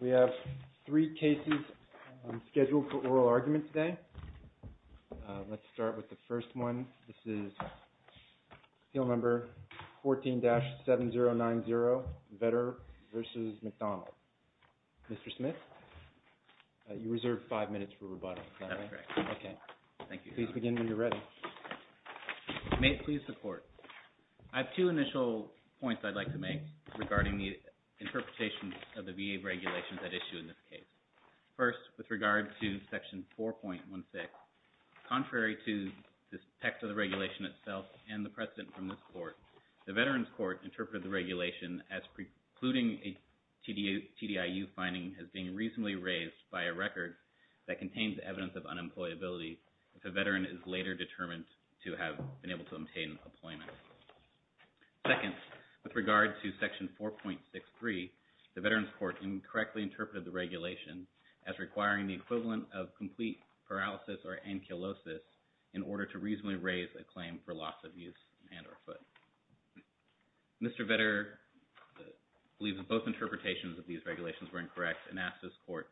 We have three cases scheduled for oral argument today. Let's start with the first one. This is field number 14-7090, Vetter v. McDonald. Mr. Smith, you reserve five minutes for rebuttal. Okay, thank you. Please begin when you're ready. May it please the court. I have two initial points I'd like to make regarding the interpretations of the VA regulations at issue in this case. First, with regard to Section 4.16, contrary to the text of the regulation itself and the precedent from this court, the Veterans Court interpreted the regulation as precluding a TDIU finding as being reasonably raised by a record that contains evidence of unemployability if a veteran is later determined to have been able to obtain employment. Second, with regard to Section 4.63, the Veterans Court incorrectly interpreted the regulation as requiring the equivalent of complete paralysis or ankylosis in order to reasonably raise a claim for loss of use and or foot. Mr. Vetter believes that both interpretations of these regulations were incorrect and asked this court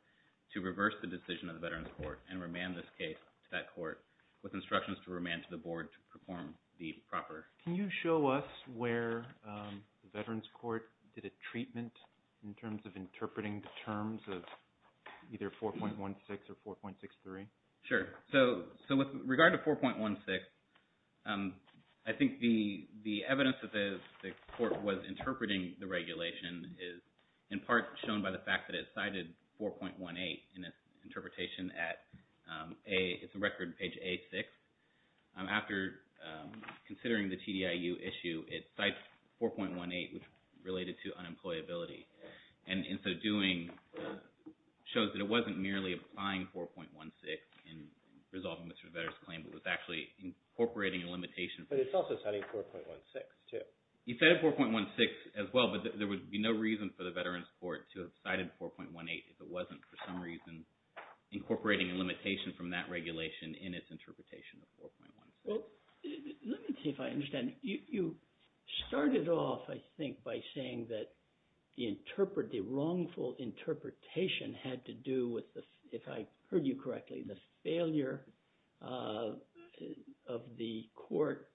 to reverse the decision of the Veterans Court and remand this case to that court with instructions to remand to the board to perform the proper. Can you show us where the Veterans Court did a treatment in terms of interpreting the terms of either 4.16 or 4.63? Sure. So with regard to 4.16, I think the evidence that the court was interpreting the regulation is in part shown by the fact that it cited 4.18 in its interpretation at A, it's a record page A6. After considering the TDIU issue, it cites 4.18 which related to unemployability and in so doing shows that it wasn't merely applying 4.16 in resolving Mr. Vetter's claim but was actually incorporating a limitation. But it's also citing 4.16 too. He said 4.16 as well but there would be no reason for the Veterans Court to have cited 4.18 if it wasn't for some reason incorporating a limitation from that regulation in its interpretation of 4.16. Well, let me see if I understand. You started off I think by saying that the wrongful interpretation had to do with, if I heard you correctly, the failure of the court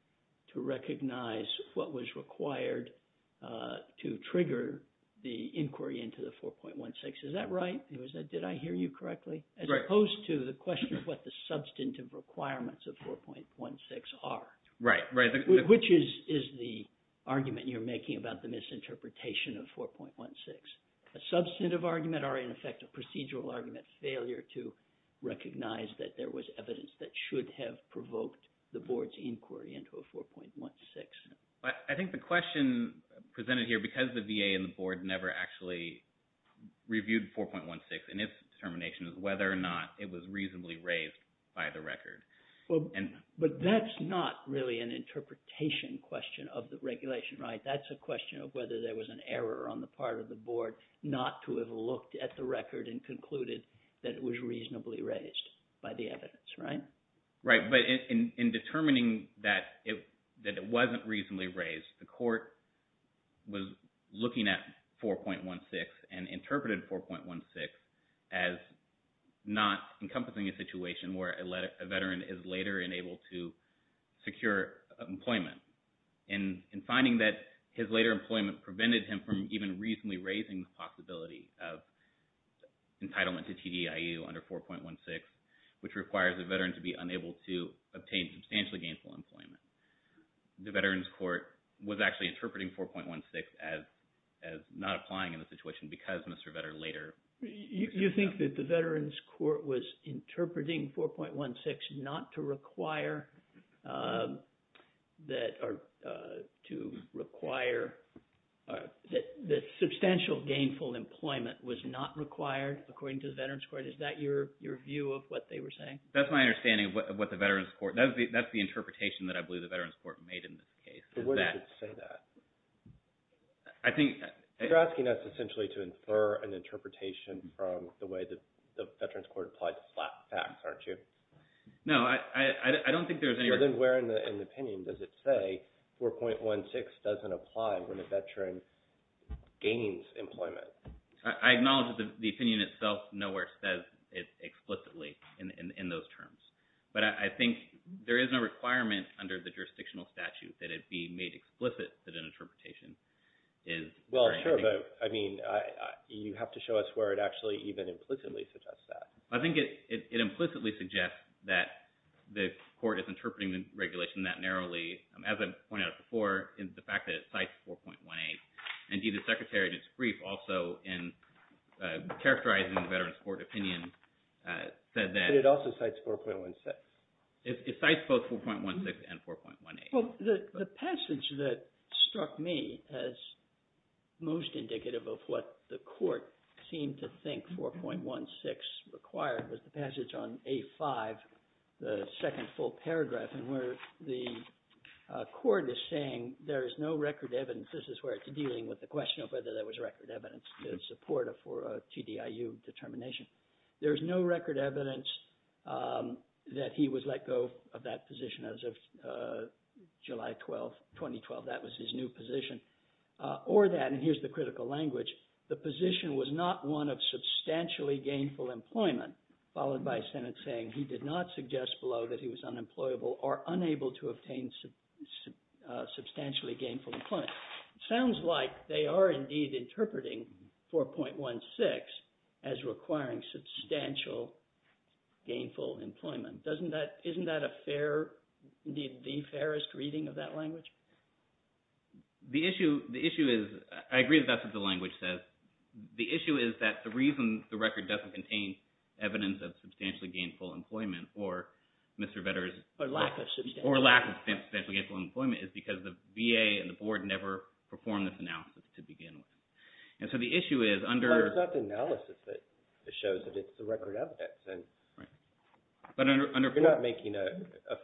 to recognize what was required to trigger the inquiry into the 4.16. Is that right? Did I hear you correctly? As opposed to the question of what the substantive requirements of 4.16 are. Right. Which is the argument you're making about the misinterpretation of 4.16? A substantive argument or in effect a procedural argument, failure to recognize that there was evidence that should have provoked the board's inquiry into a 4.16. I think the question presented here because the VA and the board never actually reviewed 4.16 and its determination is whether or not it was reasonably raised by the record. But that's not really an interpretation question of the regulation, right? That's a question of whether there was an error on the part of the board not to have looked at the record and concluded that it was reasonably raised by the record. Right? Right. But in determining that it wasn't reasonably raised, the court was looking at 4.16 and interpreted 4.16 as not encompassing a situation where a veteran is later enabled to secure employment. And in finding that his later employment prevented him from even reasonably raising the possibility of entitlement to TDIU under 4.16, which requires a veteran to be unable to obtain substantially gainful employment. The Veterans Court was actually interpreting 4.16 as not applying in the situation because Mr. Vetter later... You think that the Veterans Court was interpreting 4.16 not to require that or to require that substantial gainful employment was not required according to the Veterans Court? Is that your view of what they were saying? That's my understanding of what the Veterans Court... That's the interpretation that I believe the Veterans Court made in this case. But where does it say that? I think... You're asking us essentially to infer an interpretation from the way that the Veterans Court applied the facts, aren't you? No, I don't think there's any... Then where in the opinion does it say 4.16 doesn't apply when a veteran gains employment? I acknowledge that the opinion itself nowhere says it explicitly in those terms. But I think there is no requirement under the jurisdictional statute that it be made explicit that an interpretation is... Well, sure, but I mean, you have to show us where it actually even implicitly suggests that. I think it implicitly suggests that the court is interpreting the regulation that narrowly, as I pointed out before, in the fact that it cites 4.18. Indeed, the Secretary did a brief also in characterizing the Veterans Court opinion said that... But it also cites 4.16. It cites both 4.16 and 4.18. Well, the passage that struck me as most indicative of what the court seemed to think 4.16 required was the passage on A5, the second full paragraph, and where the court is saying there is no record evidence. This is where it's dealing with the question of whether there was record evidence to support a TDIU determination. There's no record evidence that he was let go of that position as of July 12, 2012. That was his new position. Or that, and here's the critical language, the position was not one of substantially gainful employment, followed by Senate saying he did not suggest below that he was unemployable or unable to obtain substantially gainful employment. Sounds like they are indeed interpreting 4.16 as requiring substantial gainful employment. Doesn't that, isn't that a fair, indeed the fairest reading of that language? The issue, the issue is, I agree that that's what the language says. The issue is that the reason the record doesn't contain evidence of substantially gainful employment or Mr. Vedder's, or lack of substantially gainful employment is because the VA and the board never performed this analysis to begin with. And so the issue is under, But it's not the analysis that shows that it's the record evidence. Right. But under, You're not making a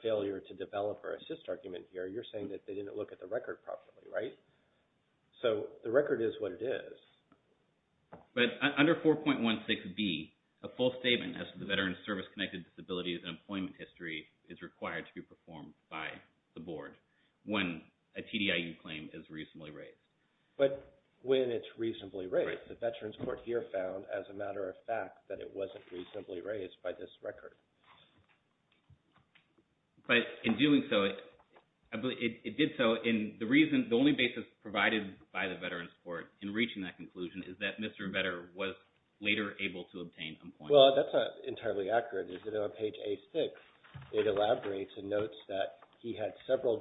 failure to develop or assist argument here. You're saying that they didn't look at the record properly, right? So the record is what it is. But under 4.16B, a full statement as to the veteran's service-connected disabilities and employment history is required to be performed by the board when a TDIU claim is reasonably raised. But when it's reasonably raised, the Veterans Court here found, as a matter of fact, that it wasn't reasonably raised by this record. But in doing so, it did so, and the reason, the only basis provided by the Veterans Court in reaching that conclusion is that Mr. Vedder was later able to obtain employment. Well, that's not entirely accurate. Is it on page A6, it elaborates and notes that he had several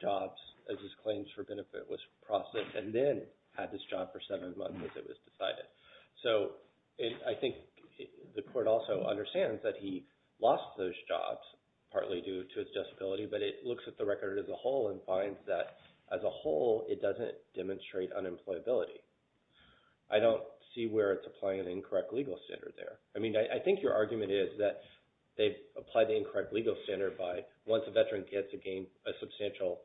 jobs as his claims for benefit was processed and then had this job for seven months as it was decided. So I think the court also understands that he lost those jobs partly due to his disability, but it looks at the record as a whole and finds that as a whole, it doesn't demonstrate unemployability. I don't see where it's applying an incorrect legal standard there. I mean, I think your argument is that they've applied the incorrect legal standard by once a veteran gets a substantial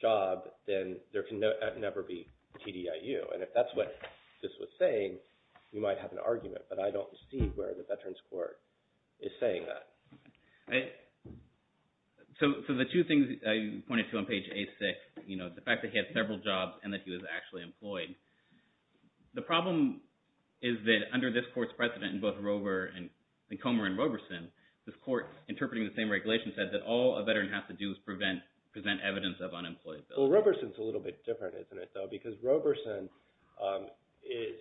job, then there can never be TDIU. And if that's what this was saying, you might have an argument, but I don't see where the Veterans Court is saying that. So the two things you pointed to on page A6, you know, the fact that he had several jobs and that he was actually employed, the problem is that under this court's precedent in both Comer and Roberson, this court interpreting the same regulation said that all a veteran has to do is present evidence of unemployability. Roberson's a little bit different, isn't it, though? Because Roberson is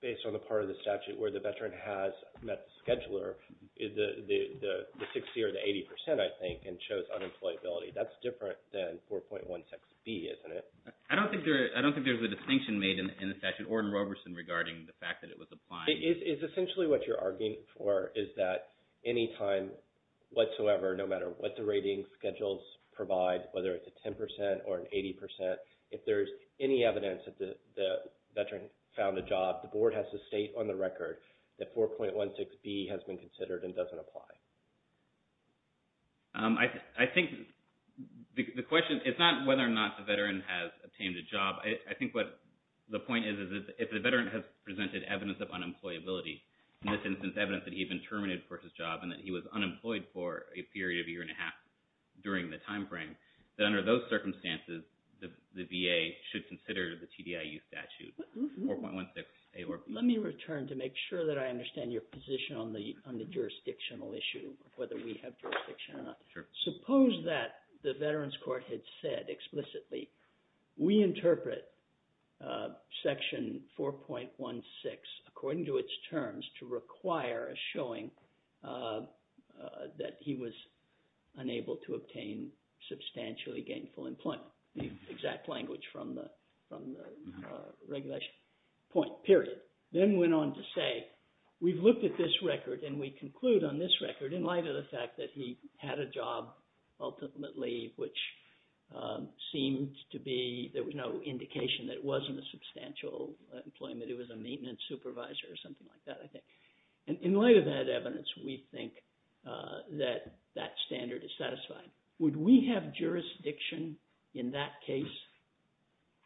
based on the part of the statute where the veteran has met the scheduler, the 60 or the 80 percent, I think, and chose unemployability. That's different than 4.16B, isn't it? I don't think there's a distinction made in the statute or in Roberson regarding the fact that it was applied. It's essentially what you're arguing for is that anytime whatsoever, no matter what the schedules provide, whether it's a 10 percent or an 80 percent, if there's any evidence that the veteran found a job, the board has to state on the record that 4.16B has been considered and doesn't apply. I think the question, it's not whether or not the veteran has obtained a job. I think what the point is, is that if the veteran has presented evidence of unemployability, in this instance, evidence that he had been terminated for his job and that he was unemployed for a period of a year and a half during the time frame, that under those circumstances, the VA should consider the TDIU statute, 4.16A or B. Let me return to make sure that I understand your position on the jurisdictional issue, whether we have jurisdiction or not. Suppose that the Veterans Court had said explicitly, we interpret Section 4.16, according to its terms, to require a showing that he was unable to obtain substantially gainful employment, the exact language from the regulation point, period. Then went on to say, we've looked at this record and we conclude on this record, in light of the fact that he had a job ultimately, which seemed to be, there was no indication that it wasn't substantial employment. It was a maintenance supervisor or something like that, I think. In light of that evidence, we think that that standard is satisfied. Would we have jurisdiction in that case,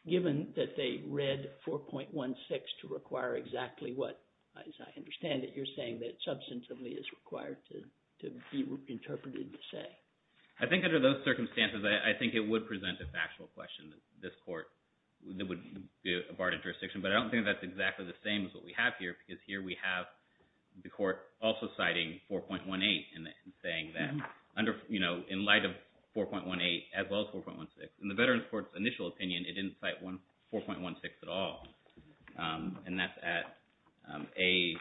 given that they read 4.16 to require exactly what, as I understand it, you're saying that substantively is required to be interpreted to say? I think under those circumstances, I think it would present a factual question. This court, that would be a part of jurisdiction. But I don't think that's exactly the same as what we have here, because here we have the court also citing 4.18 and saying that under, in light of 4.18, as well as 4.16. In the Veterans Court's initial opinion, it didn't cite 4.16 at all. And that's at a...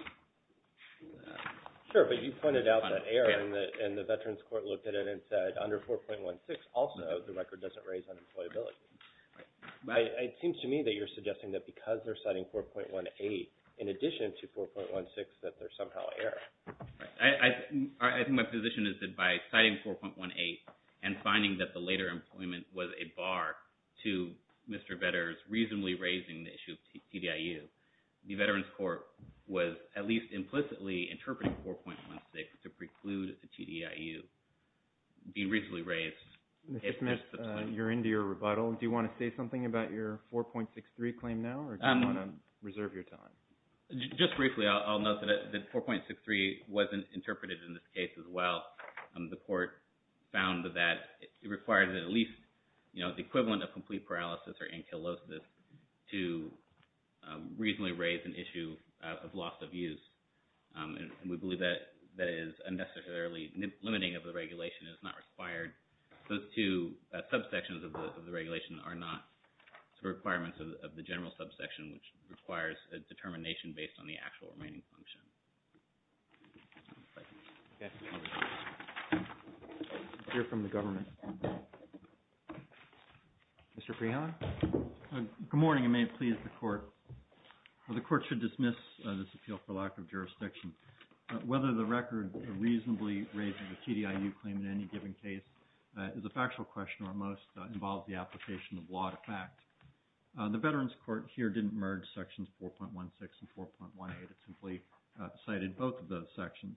Sure, but you pointed out that error and the Veterans Court looked at it and said under 4.16, also, the record doesn't raise unemployability. It seems to me that you're suggesting that because they're citing 4.18, in addition to 4.16, that there's somehow error. I think my position is that by citing 4.18 and finding that the later employment was a bar to Mr. Vedder's reasonably raising the issue of TDIU, the Veterans Court was at least implicitly interpreting 4.16 to preclude the TDIU being reasonably raised. Mr. Smith, you're into your rebuttal. Do you want to say something about your 4.63 claim now, or do you want to reserve your time? Just briefly, I'll note that 4.63 wasn't interpreted in this case as well. The court found that it requires at least the equivalent of complete paralysis or ankylosis to reasonably raise an issue of loss of use, and we believe that it is unnecessarily limiting of the regulation. It's not required. Those two subsections of the regulation are not the requirements of the general subsection, which requires a determination based on the actual remaining function. We'll hear from the government. Mr. Freeland? Good morning, and may it please the Court. The Court should dismiss this appeal for lack of jurisdiction. Whether the record reasonably raises the TDIU claim in any given case is a factual question, or most involve the application of law to fact. The Veterans Court here didn't merge sections 4.16 and 4.18. It simply cited both of those sections.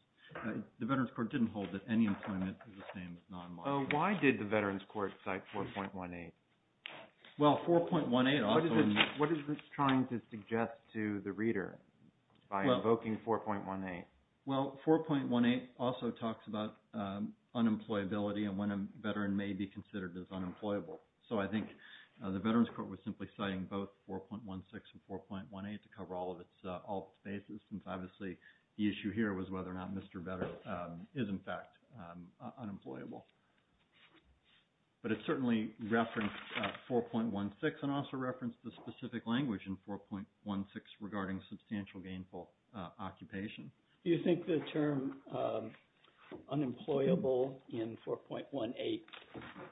The Veterans Court didn't hold that any employment is the same as non-law. Why did the Veterans Court cite 4.18? Well, 4.18 also... What is this trying to suggest to the reader by invoking 4.18? Well, 4.18 also talks about unemployability and when a veteran may be considered as unemployable. So I think the Veterans Court was simply citing both 4.16 and 4.18 to cover all of its all phases, since obviously the issue here was whether or not Mr. Vetter is in fact unemployable. But it certainly referenced 4.16 and also referenced the specific language in 4.16 regarding substantial gainful occupation. Do you think the term unemployable in 4.18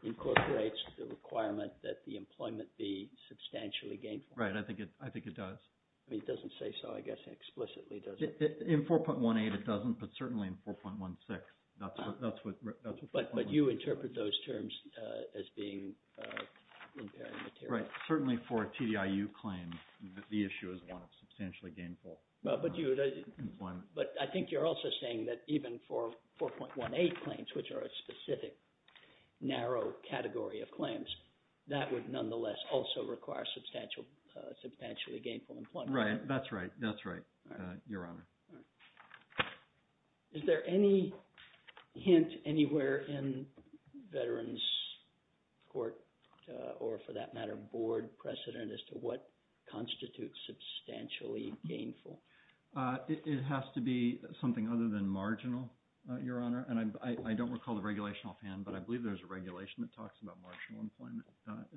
incorporates the requirement that the employment be substantially gainful? Right, I think it does. I mean, it doesn't say so, I guess, explicitly, does it? In 4.18 it doesn't, but certainly in 4.16, that's what... But you interpret those terms as being impairing material. Right, certainly for a TDIU claim, the issue is one of substantially gainful employment. But I think you're also saying that even for 4.18 claims, which are a specific, narrow category of claims, that would nonetheless also require substantially gainful employment. Right, that's right. That's right, Your Honor. All right, is there any hint anywhere in Veterans Court, or for that matter, Board precedent as to what constitutes substantially gainful? It has to be something other than marginal, Your Honor. And I don't recall the regulation offhand, but I believe there's a regulation that talks about marginal employment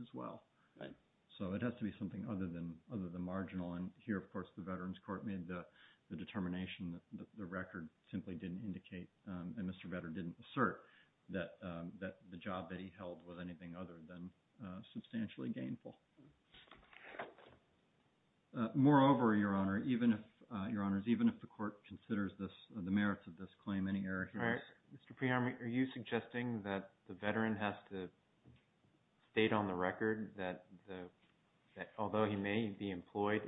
as well. Right. So it has to be something other than marginal. And here, of course, the Veterans Court made the determination that the record simply didn't indicate, and Mr. Vetter didn't assert, that the job that he held was anything other than substantially gainful. Moreover, Your Honor, even if... Your Honors, even if the court considers the merits of this claim, any error here... All right. Mr. Prehammer, are you suggesting that the veteran has to state on the record that although he may be employed,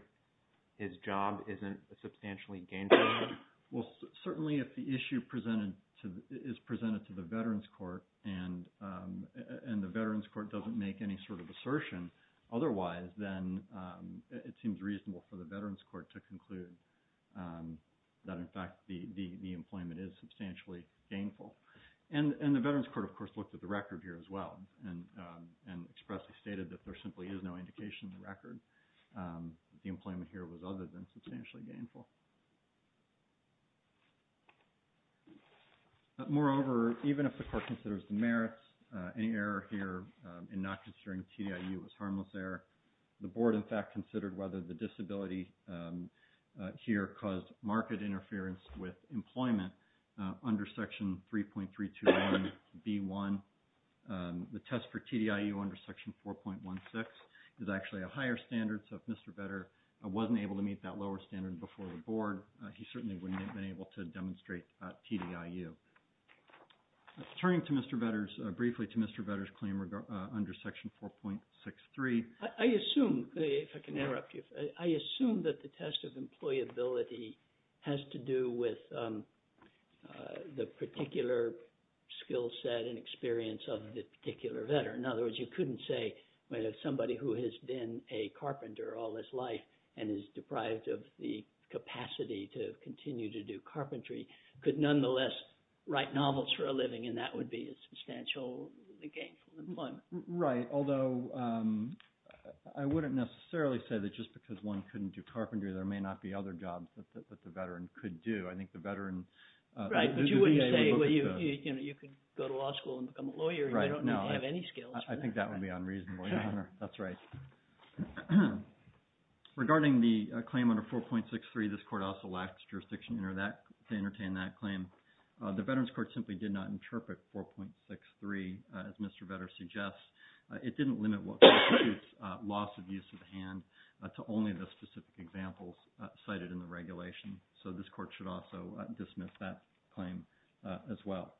his job isn't substantially gainful? Well, certainly if the issue is presented to the Veterans Court and the Veterans Court doesn't make any sort of assertion otherwise, then it seems reasonable for the Veterans Court to conclude that, in fact, the employment is substantially gainful. And the Veterans Court, of course, looked at the record here as well and expressly stated that there simply is no indication in the record that the employment here was other than substantially gainful. Moreover, even if the court considers the merits, any error here in not considering TDIU was harmless error. The board, in fact, considered whether the disability here caused marked interference with employment under Section 3.321B1. The test for TDIU under Section 4.16 is actually a higher standard. So if Mr. Vedder wasn't able to meet that lower standard before the board, he certainly wouldn't have been able to demonstrate TDIU. Turning to Mr. Vedder's... Briefly to Mr. Vedder's claim under Section 4.63. I assume, if I can interrupt you, I assume that the test of employability has to do with the particular skill set and experience of the particular veteran. In other words, you couldn't say somebody who has been a carpenter all his life and is deprived of the capacity to continue to do carpentry could nonetheless write novels for a living, and that would be a substantially gainful employment. Right, although I wouldn't necessarily say that just because one couldn't do carpentry, there may not be other jobs that the veteran could do. I think the veteran... Right, but you wouldn't say you could go to law school and become a lawyer if you don't even have any skills. I think that would be unreasonable, Your Honor. That's right. Regarding the claim under 4.63, this court also lacks jurisdiction to entertain that It didn't limit what constitutes loss of use of hand to only the specific examples cited in the regulation, so this court should also dismiss that claim as well.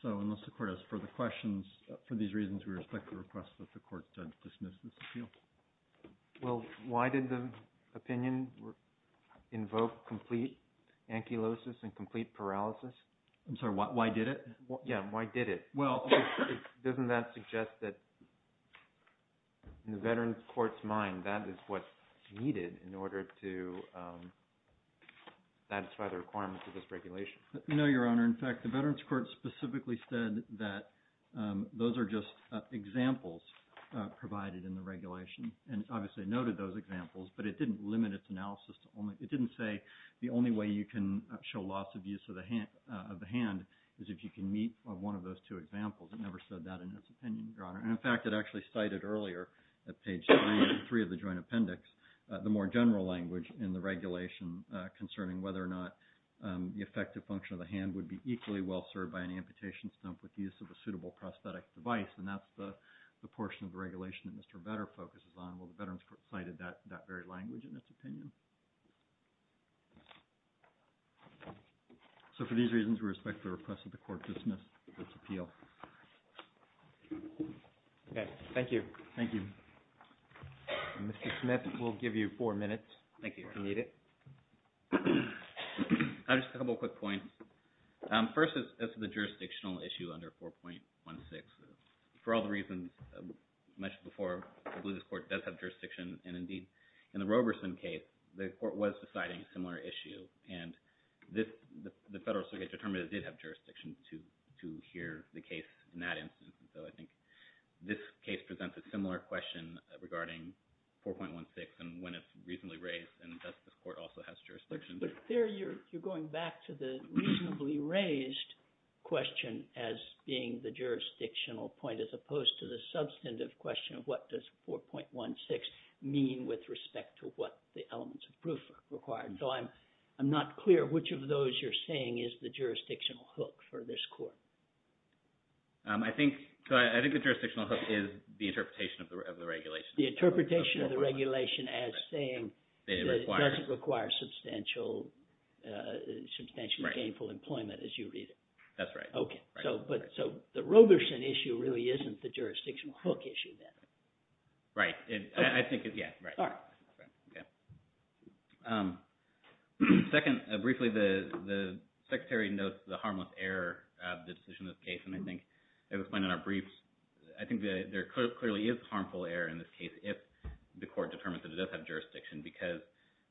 So unless the court has further questions for these reasons, we respect the request that the court dismiss this appeal. Well, why did the opinion invoke complete ankylosis and complete paralysis? I'm sorry, why did it? Yeah, why did it? Well, doesn't that suggest that in the veterans court's mind, that is what's needed in order to satisfy the requirements of this regulation? No, Your Honor. In fact, the veterans court specifically said that those are just examples provided in the regulation, and obviously noted those examples, but it didn't limit its analysis to only... It didn't say the only way you can show loss of use of the hand is if you can meet one of those two examples. It never said that in its opinion, Your Honor. And in fact, it actually cited earlier at page three of the joint appendix, the more general language in the regulation concerning whether or not the effective function of the hand would be equally well served by an amputation stump with the use of a suitable prosthetic device, and that's the portion of the regulation that Mr. Vedder focuses on. Well, the veterans court cited that very language in its opinion. So for these reasons, we respect the request of the court to dismiss its appeal. Okay, thank you. Thank you. Mr. Smith, we'll give you four minutes. Thank you. If you need it. I just have a couple of quick points. First is the jurisdictional issue under 4.16. For all the reasons mentioned before, I believe this court does have jurisdiction, and indeed, in the Roberson case, the court was deciding a similar issue. And the Federal Circuit determined it did have jurisdiction to hear the case in that instance, and so I think this case presents a similar question regarding 4.16 and when it's reasonably raised, and thus this court also has jurisdiction. But there you're going back to the reasonably raised question as being the jurisdictional point as opposed to the substantive question of what does 4.16 mean with respect to what the elements of proof are required. So I'm not clear which of those you're saying is the jurisdictional hook for this court. I think the jurisdictional hook is the interpretation of the regulation. The interpretation of the regulation as saying it doesn't require substantial gainful employment as you read it. That's right. So the Roberson issue really isn't the jurisdictional hook issue then? Right. Second, briefly, the Secretary notes the harmless error of the decision of this case, and I think it was explained in our briefs. I think there clearly is harmful error in this case if the court determines that it does have jurisdiction because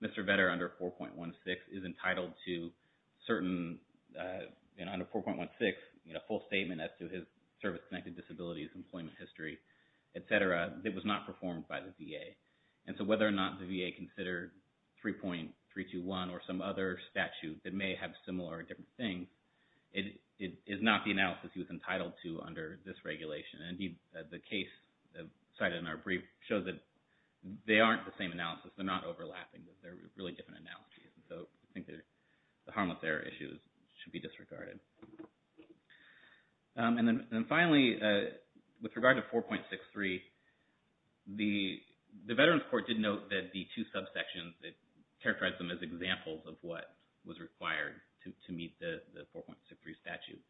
Mr. Vetter under 4.16 is entitled to certain, under 4.16, full statement as to his service-connected disabilities, employment history, et cetera, that was not performed by the VA. And so whether or not the VA considered 3.321 or some other statute that may have similar or different things, it is not the analysis he was entitled to under this regulation. And indeed, the case cited in our brief shows that they aren't the same analysis. They're not overlapping. They're really different analyses. So I think the harmless error issue should be disregarded. And then finally, with regard to 4.63, the Veterans Court did note that the two subsections, it characterized them as examples of what was required to meet the 4.63 statute.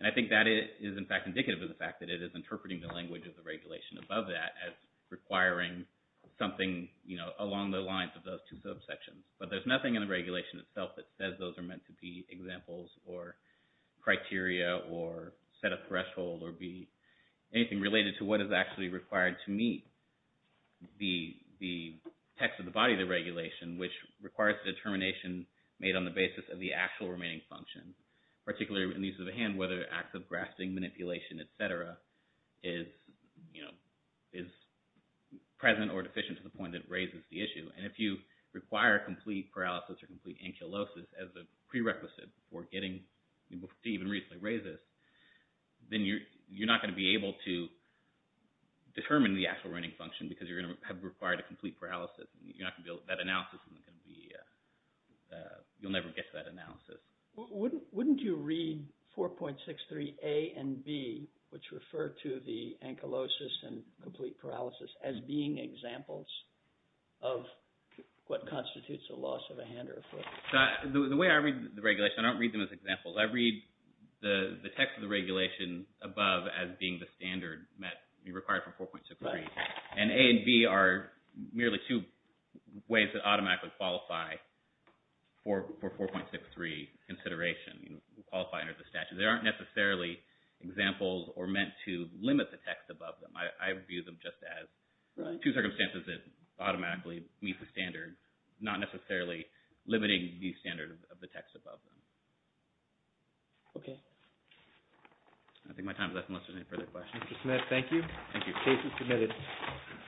And I think that is, in fact, indicative of the fact that it is interpreting the language of the regulation above that as requiring something along the lines of those two subsections. But there's nothing in the regulation itself that says those are meant to be examples or criteria or set a threshold or be anything related to what is actually required to meet the text of the body of the regulation, which requires a determination made on the basis of the actual remaining function, particularly in the use of a hand, whether acts of grasping, manipulation, et cetera, is present or deficient to the point that raises the issue. And if you require complete paralysis or complete ankylosis as a prerequisite for getting to even reasonably raise this, then you're not going to be able to determine the actual remaining function because you're going to have required a complete paralysis. You're not going to be able to, that analysis isn't going to be, you'll never get to that analysis. Wouldn't you read 4.63 A and B, which refer to the ankylosis and complete paralysis, as being examples of what constitutes a loss of a hand or a foot? The way I read the regulation, I don't read them as examples. I read the text of the regulation above as being the standard that you require for 4.63. And A and B are merely two ways that automatically qualify for 4.63 consideration, qualify under the statute. They aren't necessarily examples or meant to limit the text above them. I view them just as two circumstances that automatically meet the standard, not necessarily limiting the standard of the text above them. Okay. I think my time is up unless there's any further questions. Mr. Smith, thank you. Thank you. Case is submitted.